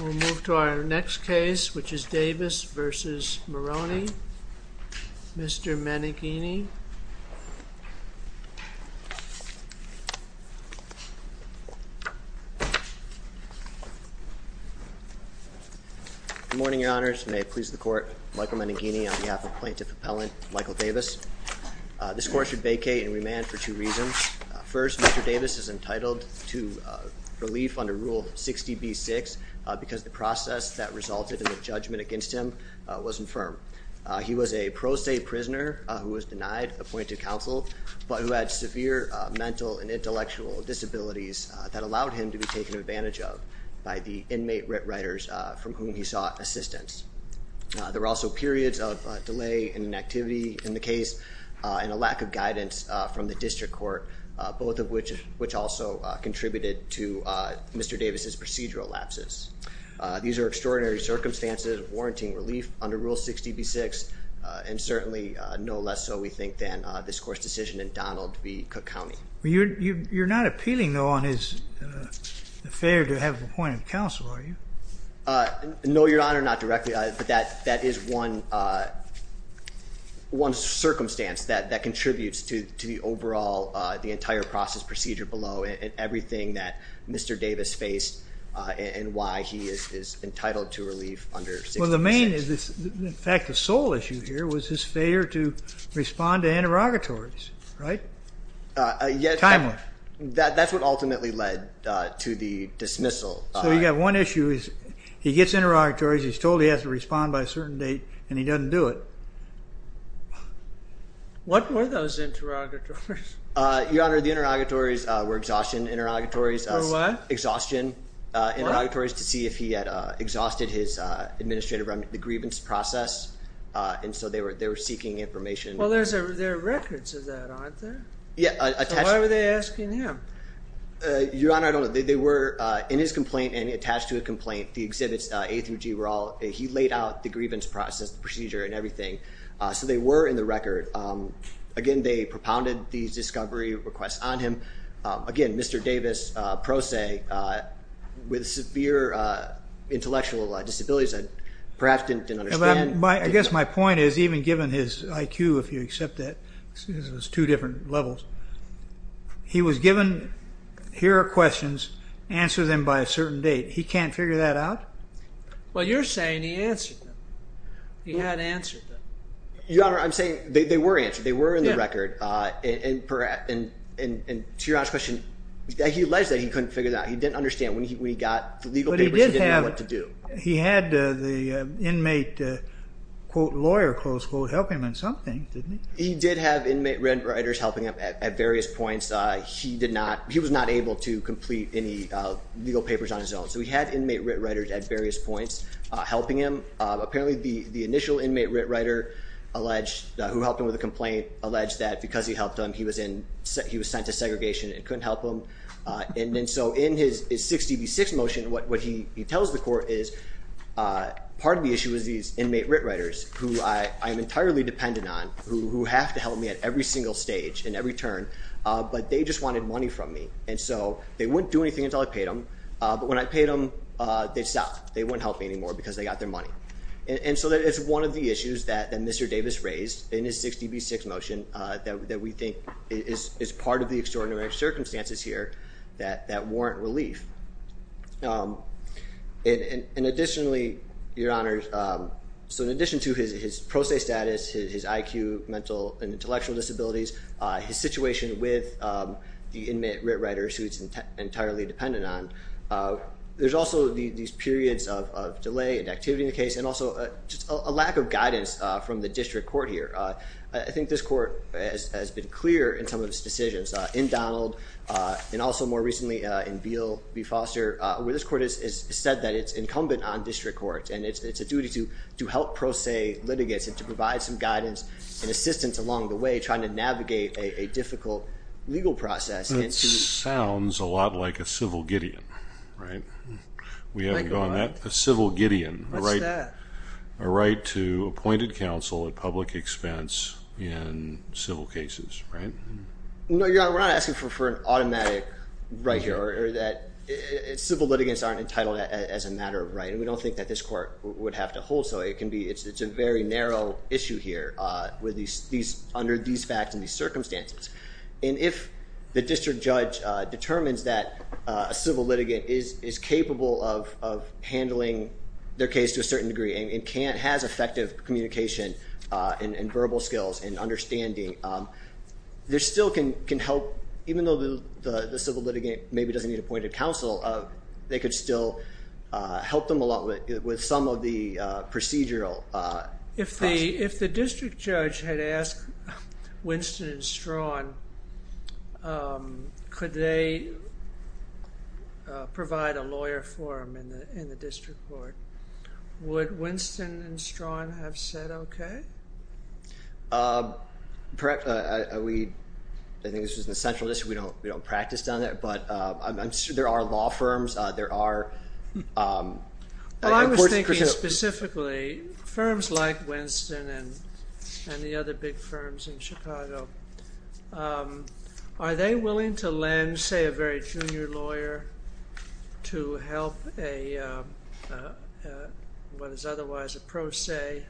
We'll move to our next case which is Davis v. Moroney. Mr. Maneghini. Good morning, your honors. May it please the court. Michael Maneghini on behalf of plaintiff appellant Michael Davis. This court should vacate and remand for two minutes. Mr. Davis is entitled to relief under rule 60b-6 because the process that resulted in the judgment against him was infirm. He was a pro se prisoner who was denied appointed counsel but who had severe mental and intellectual disabilities that allowed him to be taken advantage of by the inmate writers from whom he sought assistance. There were also periods of delay in an activity in the case and a lack of guidance from the district court both of which also contributed to Mr. Davis's procedural lapses. These are extraordinary circumstances of warranting relief under rule 60b-6 and certainly no less so we think than this court's decision in Donald v. Cook County. You're not appealing though on his failure to have appointed counsel are you? No your honor not directly but that that is one one circumstance that Mr. Davis faced and why he is entitled to relief under 60b-6. Well the main is this in fact the sole issue here was his failure to respond to interrogatories right? That's what ultimately led to the dismissal. So you got one issue is he gets interrogatories he's told he has to respond by a certain date and he doesn't do it. What were those interrogatories? Your honor the interrogatories were exhaustion interrogatories. For what? Exhaustion interrogatories to see if he had exhausted his administrative remnant the grievance process and so they were they were seeking information. Well there's a there are records of that aren't there? Yeah. Why were they asking him? Your honor I don't know they were in his complaint and attached to a complaint the exhibits A through G were all he laid out the grievance process the procedure and everything so they were in the record. Again they propounded these discovery requests on him again Mr. Davis pro se with severe intellectual disabilities that perhaps didn't understand. I guess my point is even given his IQ if you accept that this was two different levels he was given here are questions answer them by a certain date. He can't figure that out? Well you're saying he answered them. He had answered them. Your honor I'm saying they were answered they were in the record and perhaps and to your question he alleged that he couldn't figure that he didn't understand when he got the legal papers he didn't know what to do. He had the inmate quote lawyer close quote help him in something didn't he? He did have inmate writers helping him at various points. He did not he was not able to complete any legal papers on his own so he had inmate writ writers at various points helping him. Apparently the the initial inmate writ writer alleged who helped him with a complaint alleged that because he helped him he was in he was sent to segregation and couldn't help him and then so in his 60 v 6 motion what what he he tells the court is part of the issue is these inmate writ writers who I am entirely dependent on who have to help me at every single stage in every turn but they just wanted money from me and so they wouldn't do anything until I paid them but when I paid them they stopped. They wouldn't help me anymore because they got their money and so that is one of the issues that Mr. Davis raised in his 60 v 6 motion that we think is part of the extraordinary circumstances here that that warrant relief. And additionally your honor so in addition to his pro se status his IQ mental and intellectual disabilities his situation with the inmate writ writers who it's entirely dependent on there's also these periods of delay and activity in the case and also just a lack of guidance from the district court here. I think this court has been clear in some of its decisions in Donald and also more recently in Beale v. Foster where this court has said that it's incumbent on district courts and it's a duty to to help pro se litigates and to provide some guidance and assistance along the way trying to navigate a difficult legal process. Sounds a lot like a civil Gideon right? We haven't gone that a civil Gideon right a right to appointed counsel at public expense in civil cases right? No your honor we're not asking for an automatic right here or that civil litigants aren't entitled as a matter of right and we don't think that this court would have to hold so it can be it's it's a very narrow issue here with these these under these facts in these circumstances and if the district judge determines that a civil litigant is is capable of handling their case to a certain degree and can't has effective communication and verbal skills and understanding there still can can help even though the the civil litigant maybe doesn't need counsel of they could still help them a lot with some of the procedural. If the if the district judge had asked Winston and Strawn could they provide a lawyer for him in the in the district court would Winston and Strawn have said okay? Perhaps we I think this is an essential issue we don't we don't practice down there but I'm sure there are law firms there are. Well I was thinking specifically firms like Winston and and the other big firms in Chicago are they willing to lend say a very junior lawyer to help a what is otherwise a pro se?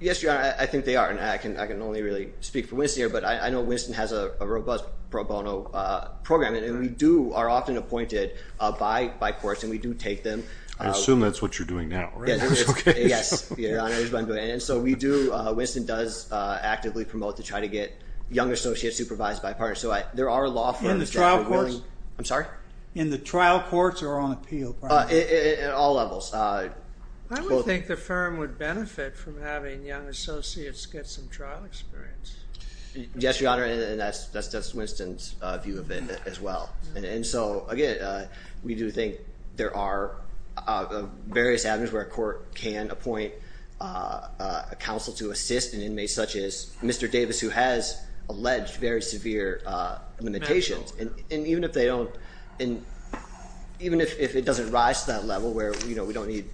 Yes your honor I think they are and I can I can only really speak for Winston here but I know Winston has a robust pro bono program and we do are often appointed by by courts and we do take them. I assume that's what you're doing now. Yes and so we do Winston does actively promote to try to get young associates supervised by a partner so I there are law firms. In the trial courts? I'm sorry? In the trial courts or on appeal? At all levels. I would think the firm would benefit from having young associates get some trial experience. Yes your honor and that's that's that's Winston's view of it as well and so again we do think there are various avenues where a court can appoint a counsel to assist an inmate such as Mr. Davis who has alleged very severe limitations and even if they don't and even if it doesn't rise to that level where you know we don't need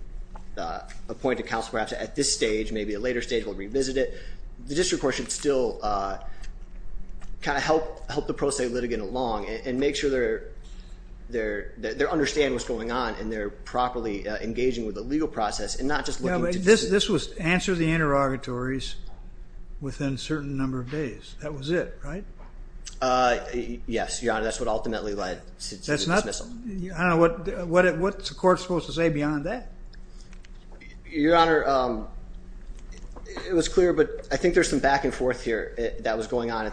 appointed counsel perhaps at this stage maybe a later stage we'll revisit it the district court should still kind of help help the pro se litigant along and make sure they're they're they're understand what's going on and they're properly engaging with the legal process and not just this this was answer the interrogatories within certain number of days that was it right yes your honor that's what ultimately led that's not what what it what the court supposed to say beyond that your honor it was clear but I think there's some back and forth here that was going on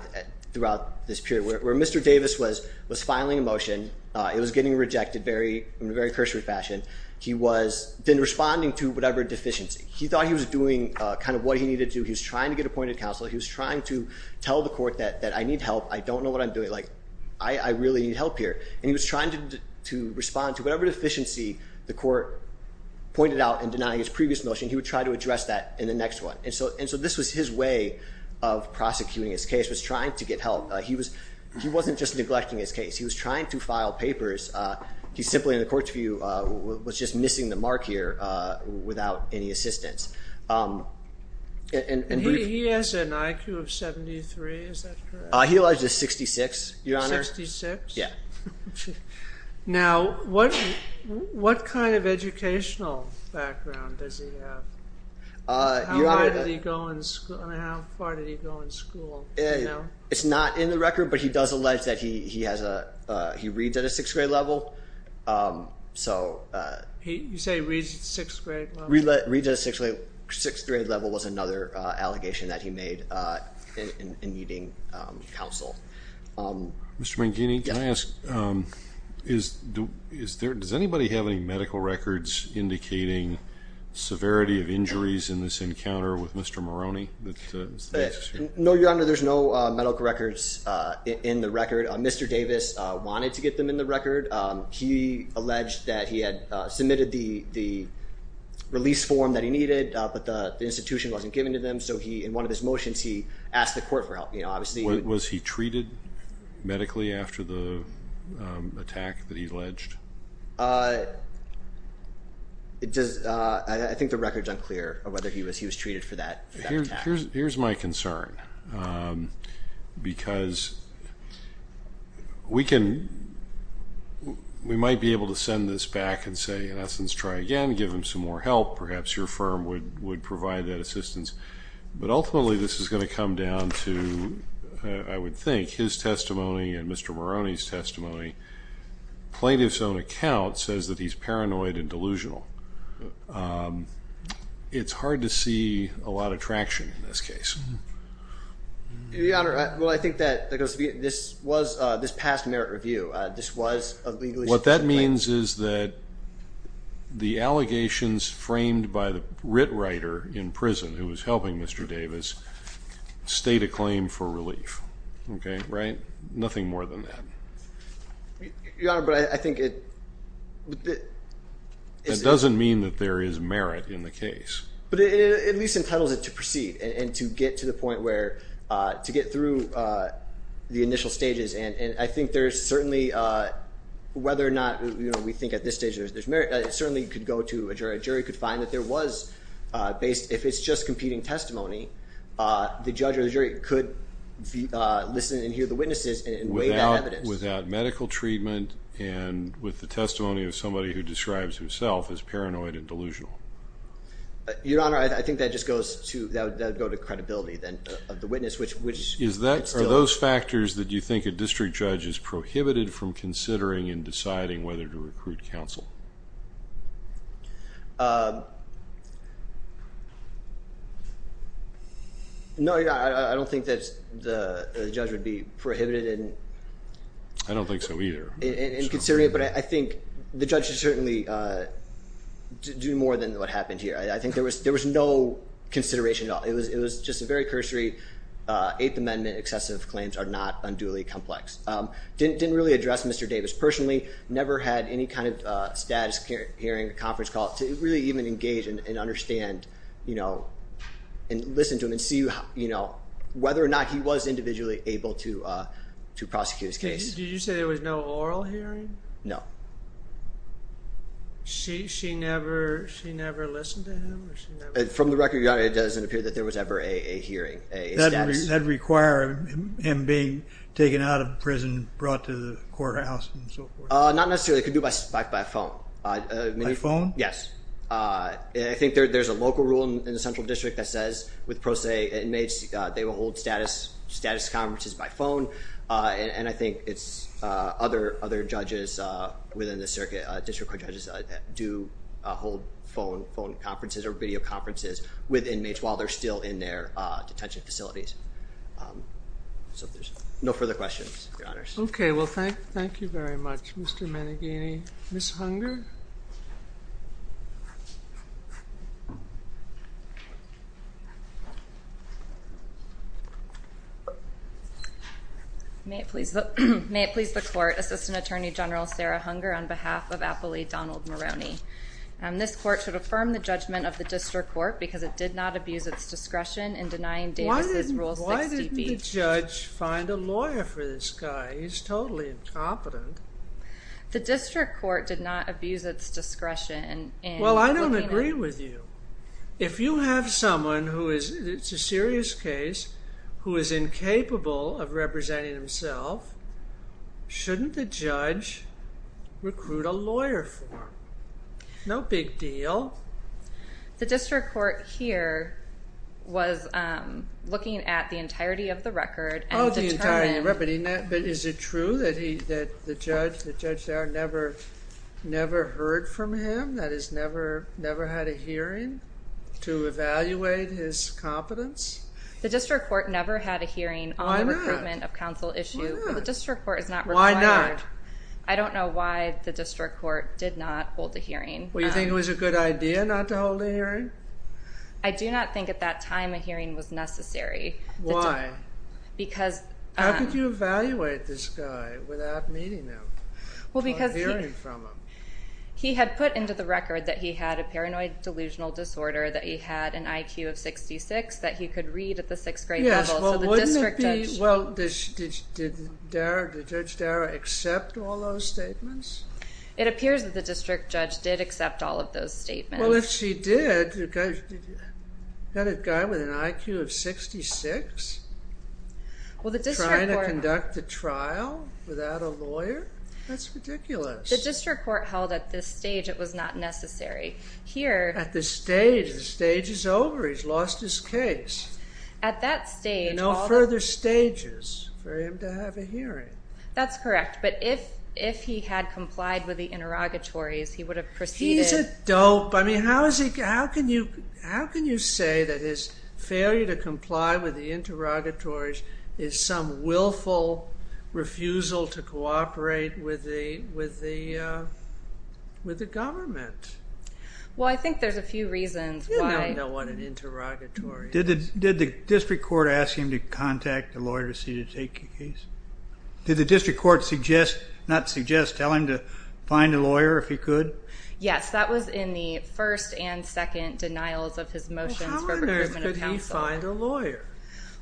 throughout this period where mr. Davis was was filing a motion it was getting rejected very in a very cursory fashion he was then responding to whatever deficiency he thought he was doing kind of what he needed to he's trying to get appointed counsel he was trying to tell the court that that I need help I don't know what I'm doing like I I really need help here and he was trying to respond to whatever deficiency the court pointed out and denying his previous motion he would try to address that in the next one and so and so this was his way of prosecuting his case was trying to get help he was he wasn't just neglecting his case he was trying to file papers he's simply in the court's view was just missing the mark here without any assistance and he has an IQ of 73 I he was just 66 your honor 66 yeah now what what kind of educational background does he have you already go in school and how far did he go in school yeah it's not in the record but he does allege that he has a he reads at a sixth grade level so he say reads sixth grade we let read a six-way sixth grade level was another allegation that he made in needing counsel mr. Mangini yes is do is there does anybody have any medical records indicating severity of injuries in this encounter with mr. Maroney no you're under there's no medical records in the record mr. Davis wanted to get them in the record he alleged that he had submitted the the release form that he needed but the institution wasn't given to them so he in one of his motions he asked the court for help you know obviously it was he treated medically after the attack that he alleged it does I think the records unclear or whether he was he was treated for that here's here's my concern because we can we might be able to send this back and say in essence try again give him some more help perhaps your firm would would provide that assistance but ultimately this is going to come down to I would think his testimony and mr. Maroney's testimony plaintiff's own account says that he's paranoid and delusional it's hard to see a lot of traction in this case well I think that this was this past merit review this was what that means is that the allegations framed by the writ writer in prison who was helping mr. Davis state a claim for relief okay right nothing more than that yeah but I think it doesn't mean that there is merit in the case but it at least entitles it to proceed and to get to the point where to get through the we think at this stage there's merit it certainly could go to a jury jury could find that there was based if it's just competing testimony the judge or the jury could listen and hear the witnesses and without medical treatment and with the testimony of somebody who describes himself as paranoid and delusional your honor I think that just goes to that go to credibility then the witness which which is that are those factors that you think a district judge is prohibited from considering and deciding whether to recruit counsel no yeah I don't think that the judge would be prohibited and I don't think so either in considering it but I think the judge should certainly do more than what happened here I think there was there was no consideration at all it was it was just a very cursory eighth amendment excessive claims are not unduly complex didn't really address mr. Davis personally never had any kind of status hearing a conference call to really even engage and understand you know and listen to him and see you how you know whether or not he was individually able to to prosecute his case did you say there was no oral hearing no she she never she never listened to him from the record it doesn't appear that there was ever a hearing that require him being taken out of prison brought to the courthouse not necessarily could do by spike by phone iPhone yes I think there's a local rule in the Central District that says with pro se inmates they will hold status status conferences by phone and I think it's other other judges within the circuit district judges do hold phone phone conferences or video conferences with inmates while they're still in their detention facilities so there's no further questions okay well thank thank you very much mr. managini miss hunger may it please look may it please the court assistant attorney general Sarah hunger on behalf of Appley Donald Maroney and this court should affirm the district court because it did not abuse its discretion in denying Davis's rules why did the judge find a lawyer for this guy he's totally incompetent the district court did not abuse its discretion and well I don't agree with you if you have someone who is it's a serious case who is incapable of representing himself shouldn't the judge recruit a lawyer for no big deal the district court here was looking at the entirety of the record oh the entire you're repeating that but is it true that he that the judge the judge never never heard from him that is never never had a hearing to evaluate his competence the district court never had a hearing of council issue the district court is not why not I don't know why the district court did not hold a hearing well you think it was a good idea not to hold a hearing I do not think at that time a hearing was necessary why because how could you evaluate this guy without meeting him well because he heard from him he had put into the record that he had a paranoid delusional disorder that he had an IQ of 66 that he could read at the sixth grade yes well wouldn't it be well did Judge Darragh accept all those statements it appears that the district judge did accept all of those statements well if she did that a guy with an IQ of 66 well the district trying to conduct the trial without a lawyer that's ridiculous the district court held at this stage it was not necessary here at this stage the stage is over he's lost his case at that stage no further stages for him to have a hearing that's correct but if if he had complied with the interrogatories he would have proceeded dope I mean how is he how can you how can you say that his failure to comply with the interrogatories is some willful refusal to cooperate with the with the with the government well I think there's a few reasons why I don't know what an interrogatory did it did the district court ask him to contact a lawyer to see to take a case did the district court suggest not suggest telling to find a lawyer if he could yes that was in the first and second denials of his motion find a lawyer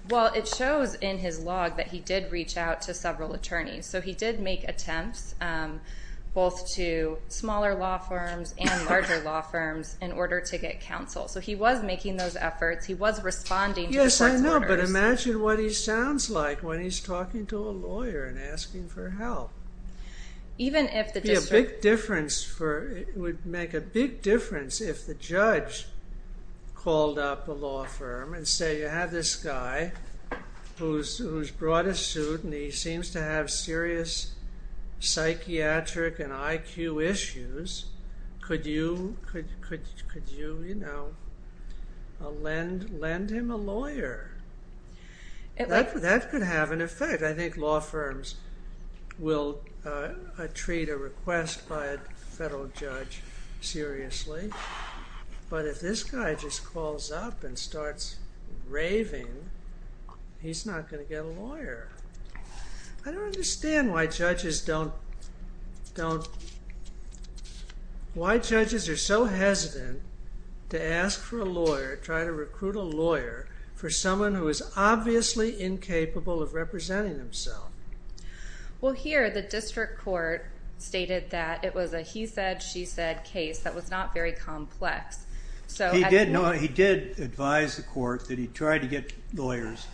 well it shows in his log that he did reach out to several attorneys so he did make attempts both to smaller law firms and larger law firms in order to get counsel so he was making those efforts he was responding yes I know but imagine what he sounds like when he's talking to a lawyer and asking for help even if the district difference for it would make a big difference if the judge called up a law firm and say you have this guy who's brought a suit and he seems to have serious psychiatric and IQ issues could you could you know a lend lend him a lawyer that could have an effect I think law firms will treat a request by a federal judge seriously but if this guy just calls up and starts raving he's not going to get a lawyer I don't understand why judges don't don't why judges are so hesitant to ask for a lawyer try to recruit a lawyer for someone who is obviously incapable of representing himself well here the district court stated that it was a he said she said case that was not very complex so he did know he did advise the court that he tried to get lawyers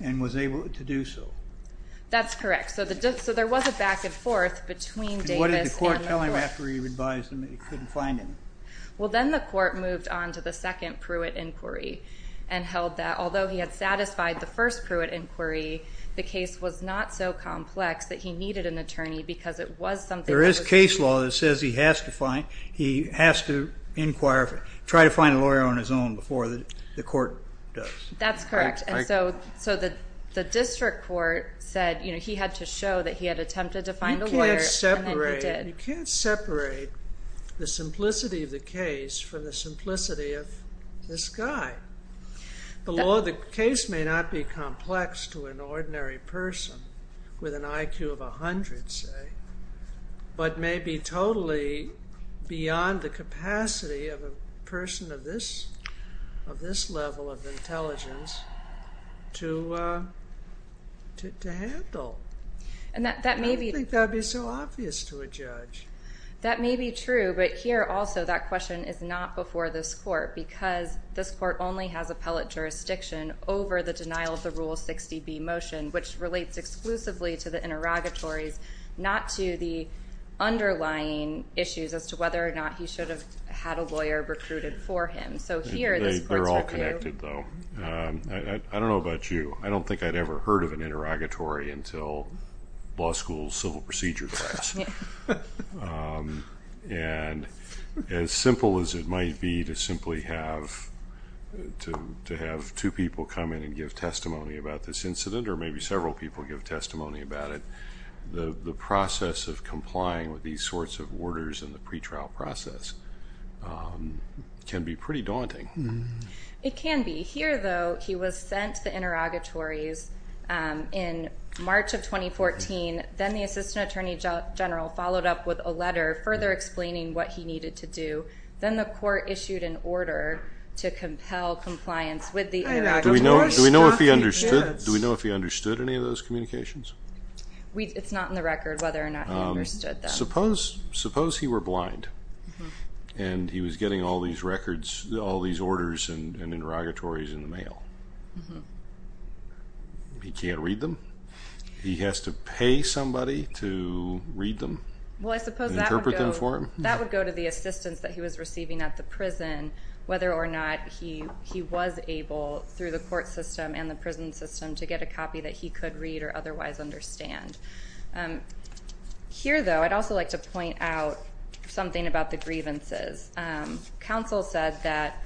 and was able to do so that's correct so the judge so there was a back-and-forth between Davis and the court. And what did the court tell him after he advised him that he couldn't find any? well then the court moved on to the second Pruitt inquiry and held that although he had satisfied the first Pruitt inquiry the case was not so complex that he needed an attorney because it was something there is case law that says he has to find he has to inquire try to find a lawyer on his own before the court does. That's correct and so so that the district court said you know he had to show that he had attempted to find a lawyer. You can't separate the simplicity of the case from the simplicity of this guy. The law of the case may not be complex to an ordinary person with an IQ of a hundred say but may be totally beyond the capacity of a person of this of this level of intelligence to handle. And that may be. I don't think that would be so obvious to a judge. That may be true but here also that question is not before this court because this court only has appellate jurisdiction over the denial of the rule 60b motion which relates exclusively to interrogatories not to the underlying issues as to whether or not he should have had a lawyer recruited for him. So here. They're all connected though. I don't know about you I don't think I'd ever heard of an interrogatory until law school civil procedure class. And as simple as it might be to simply have to have two people come in and give testimony about this incident or maybe several people give testimony about it. The process of complying with these sorts of orders in the pretrial process can be pretty daunting. It can be. Here though he was sent to the interrogatories in March of 2014. Then the assistant attorney general followed up with a letter further explaining what he needed to do. Then the court issued an order to compel compliance with the interrogatories. Do we know if he understood any of those communications? It's not in the record whether or not he understood them. Suppose he were blind and he was getting all these records all these orders and interrogatories in the mail. He can't read them? He has to pay somebody to read them? Well I suppose that would go to the assistants that he was receiving at the prison whether or not he was able through the court system and the prison system to get a copy that he could read or otherwise understand. Here though I'd also like to point out something about the grievances. Counsel said that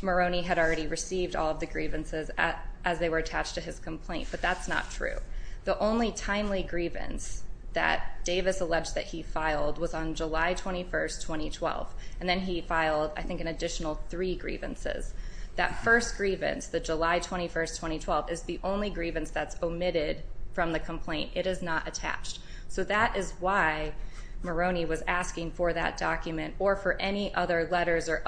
Maroney had already received all the grievances as they were attached to his complaint but that's not true. The only timely grievance that Davis alleged that he filed was on July 21st 2012 and then he filed I think an additional three grievances. That first grievance the July 21st 2012 is the only grievance that's omitted from the complaint. It is not attached. So that is why Maroney was asking for that document or for any other letters or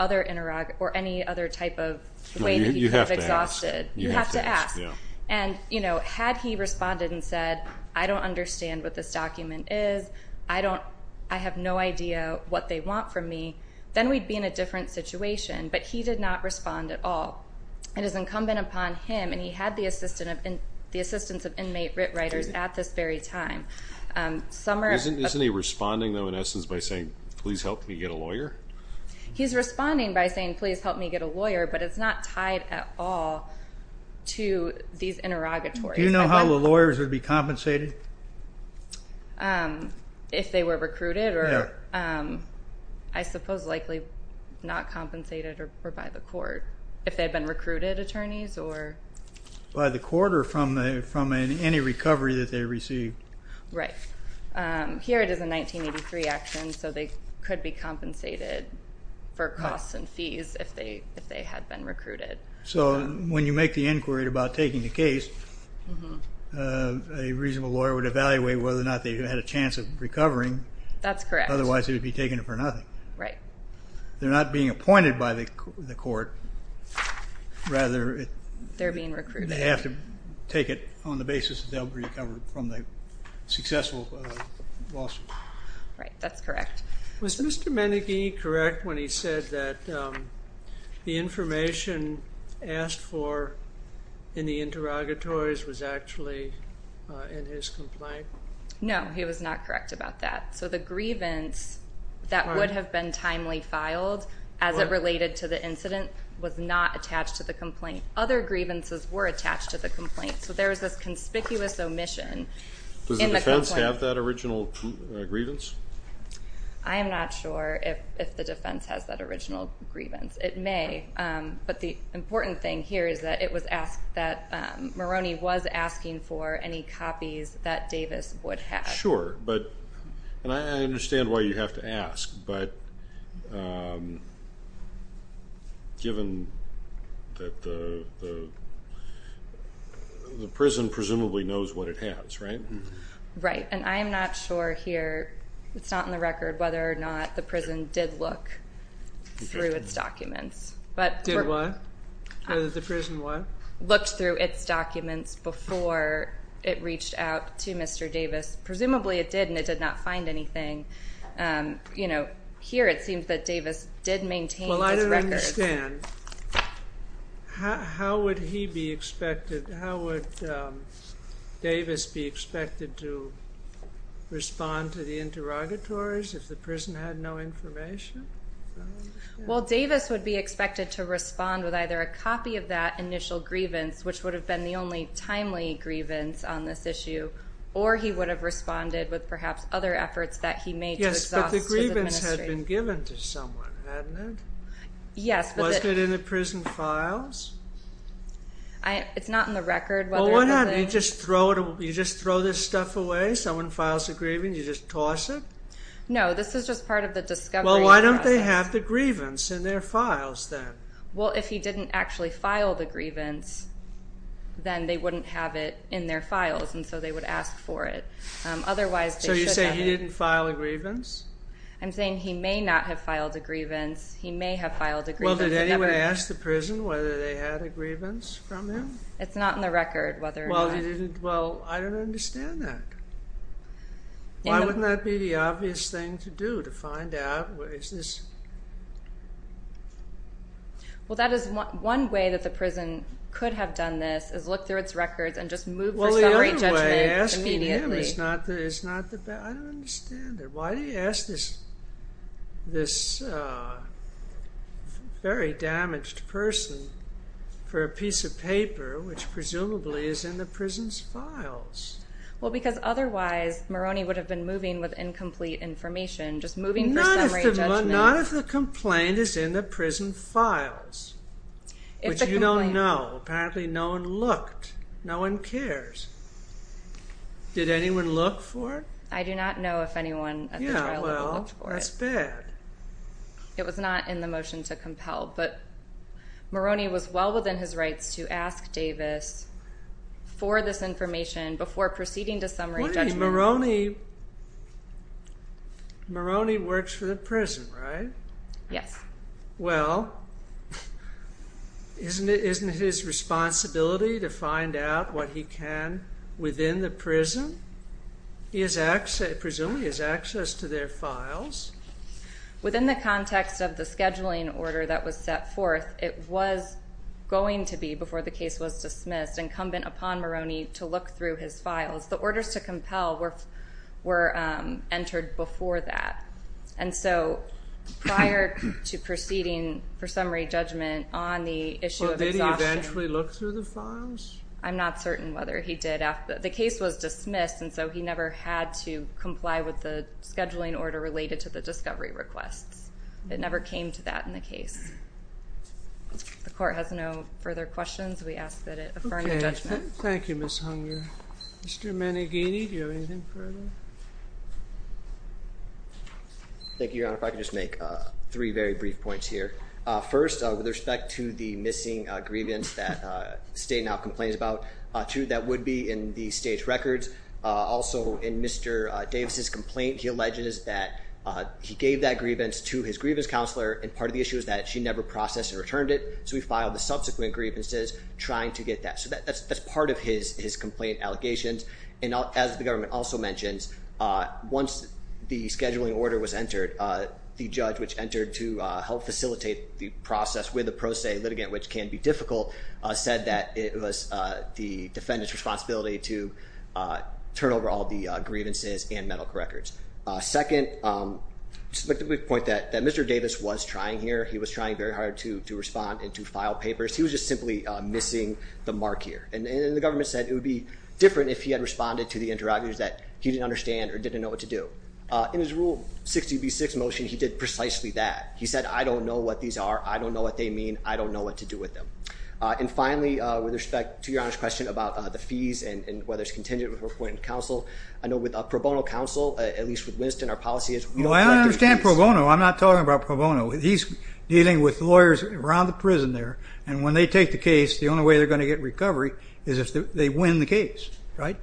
any other type of way that he could have exhausted. You have to ask. And you know had he responded and said I don't understand what this document is I don't I have no idea what they want from me then we'd be in a different situation but he did not respond at all. It is incumbent upon him and he had the assistance of inmate writers at this very time. Isn't he responding though in essence by saying please help me get a lawyer? He's responding by saying please help me get a lawyer but it's not tied at all to these interrogatories. Do you know how the not compensated or by the court if they had been recruited attorneys or? By the court or from the from any recovery that they received. Right. Here it is a 1983 action so they could be compensated for costs and fees if they if they had been recruited. So when you make the inquiry about taking the case a reasonable lawyer would evaluate whether or not they had a chance of recovering. That's correct. Otherwise they would be taking it for nothing. Right. They're not being appointed by the court rather. They're being recruited. They have to take it on the basis that they'll be recovered from the successful lawsuit. Right that's correct. Was Mr. Meneghe correct when he said that the information asked for in the interrogatories was actually in his complaint? No he was not correct about that. So the grievance that would have been timely filed as it related to the incident was not attached to the complaint. Other grievances were attached to the complaint. So there was this conspicuous omission. Does the defense have that original grievance? I am not sure if the defense has that original grievance. It may but the important thing here is that it was asked that Maroney was asking for any copies that Davis would have. Sure but and I understand why you have to ask but given that the prison presumably knows what it has right? Right and I am not sure here it's not in the record whether or not the prison did look through its documents. Did what? Did the prison what? Looked through its documents before it reached out to Mr. Davis. Presumably it did and it did not find anything. You know here it seems that Davis did maintain his records. Well I don't understand. How would he be expected? How would Davis be expected to respond to the interrogatories if the prison had no information? Well Davis would be expected to respond with either a copy of that initial grievance which would have been the only timely grievance on this issue or he would have responded with perhaps other efforts that he made to exhaust the administration. Yes but the grievance had been given to someone hadn't it? Yes but. Wasn't it in the prison files? It's not in the record. Well why not? You just throw this stuff away? Someone files a grievance and you just toss it? No this is just part of the discovery process. Well why don't they have the grievance in their files then? Well if he didn't actually file the grievance then they wouldn't have it in their files and so they would ask for it. Otherwise. So you say he didn't file a grievance? I'm saying he may not have filed a grievance. He may have filed a grievance. Well did anyone ask the prison whether they had a grievance from him? It's not in the record whether or not. Well he didn't. Well I don't understand that. Why wouldn't that be the obvious thing to do to find out where is this? Well that is one way that the prison could have done this is look through its records and just move for summary judgment immediately. Well the other way asking him is not the best. I don't understand it. Why do you ask this very damaged person for a piece of paper which presumably is in the prison's files? Well because otherwise Maroney would have been moving with incomplete information. Just moving for summary judgment. Not if the complaint is in the prison files. Which you don't know. Apparently no one looked. No one cares. Did anyone look for it? I do not know if anyone at the trial level looked for it. Yeah well that's bad. It was not in the motion to compel but Maroney was well within his rights to ask Davis for this information before proceeding to summary judgment. Wait Maroney works for the prison right? Yes. Well isn't it his responsibility to find out what he can within the prison? Presumably his access to their files. Within the context of the scheduling order that was set forth it was going to be before the case was dismissed incumbent upon Maroney to look through his files. The orders to compel were entered before that. And so prior to proceeding for summary judgment on the issue of exhaustion. Well did he eventually look through the files? I'm not certain whether he did. The case was dismissed and so he never had to comply with the scheduling order related to the discovery requests. It never came to that in the case. If the court has no further questions we ask that it affirm the judgment. Thank you Ms. Hunger. Mr. Maneghini do you have anything further? Thank you Your Honor. If I could just make three very brief points here. First with respect to the missing grievance that the state now complains about. Two that would be in the state's records. Also in Mr. Davis' complaint he alleges that he gave that grievance to his grievance counselor and part of the issue is that she never processed and returned it. So we filed the subsequent grievances trying to get that. So that's part of his complaint allegations. And as the government also mentions once the scheduling order was entered the judge which entered to help facilitate the process with the pro se litigant which can be difficult said that it was the defendant's responsibility to turn over all the grievances and mental correctors. Second, I'd like to make the point that Mr. Davis was trying here. He was trying very hard to respond and to file papers. He was just simply missing the mark here. And the government said it would be different if he had responded to the interrogators that he didn't understand or didn't know what to do. In his rule 60B6 motion he did precisely that. He said I don't know what these are. I don't know what they mean. I don't know what to do with them. And finally with respect to your honest question about the fees and whether it's contingent with her appointed counsel. I know with a pro bono counsel at least with Winston our policy is we don't collect the fees. Well I don't understand pro bono. I'm not talking about pro bono. He's dealing with lawyers around the prison there and when they take the case the only way they're going to get recovery is if they win the case, right?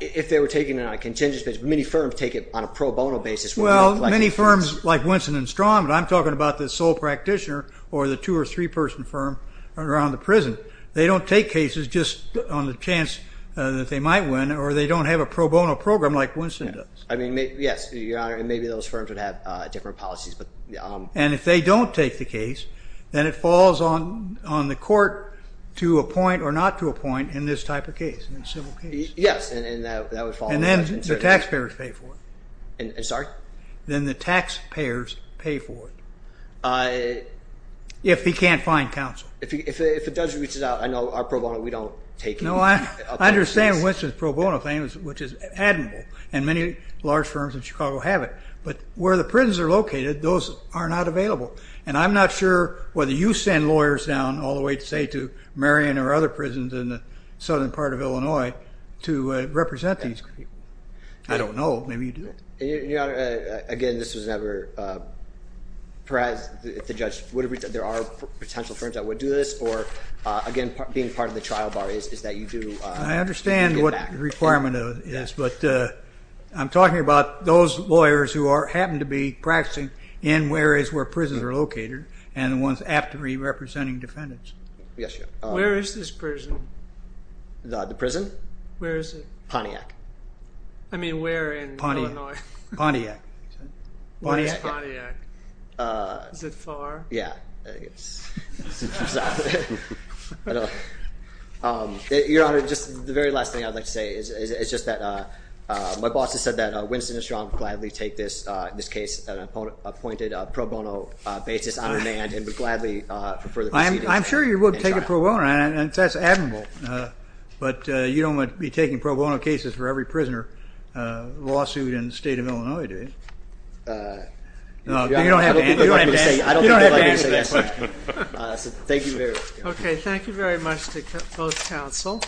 If they were taking it on a contingent basis. Many firms take it on a pro bono basis. Well many firms like Winston and Strong, but I'm talking about the sole practitioner or the two or three person firm around the prison. They don't take cases just on the chance that they might win or they don't have a pro bono program like Winston does. I mean, yes, your honor, and maybe those firms would have different policies. And if they don't take the case then it falls on the court to appoint or not to appoint in this type of case, in a civil case. Yes, and that would fall on us. And then the taxpayers pay for it. I'm sorry? Then the taxpayers pay for it. If he can't find counsel. If a judge reaches out, I know our pro bono, we don't take it. No, I understand Winston's pro bono claim, which is admirable and many large firms in Chicago have it. But where the prisons are located, those are not available. And I'm not sure whether you send lawyers down all the way to say to Marion or other prisons in the southern part of Illinois to represent these people. I don't know. Maybe you do. Your honor, again, this was never, perhaps if the judge would have reached out, there are potential firms that would do this. Or again, being part of the trial bar is that you do get back. I understand what the requirement is. But I'm talking about those lawyers who happen to be practicing in areas where prisons are located and the ones apt to be representing defendants. Yes, your honor. Where is this prison? The prison? Where is it? Pontiac. I mean, where in Illinois? Pontiac. Where is Pontiac? Is it far? Yeah. Your honor, just the very last thing I'd like to say is just that my boss has said that Winston and Strong gladly take this case, an appointed pro bono basis on demand and would gladly for further proceedings. I'm sure you would take a pro bono, and that's admirable. But you don't want to be taking pro bono cases for every prisoner lawsuit in the state of Illinois, do you? No, you don't have to answer that. I don't think they'd like me to say that, sir. Thank you very much. Okay, thank you very much to both counsel.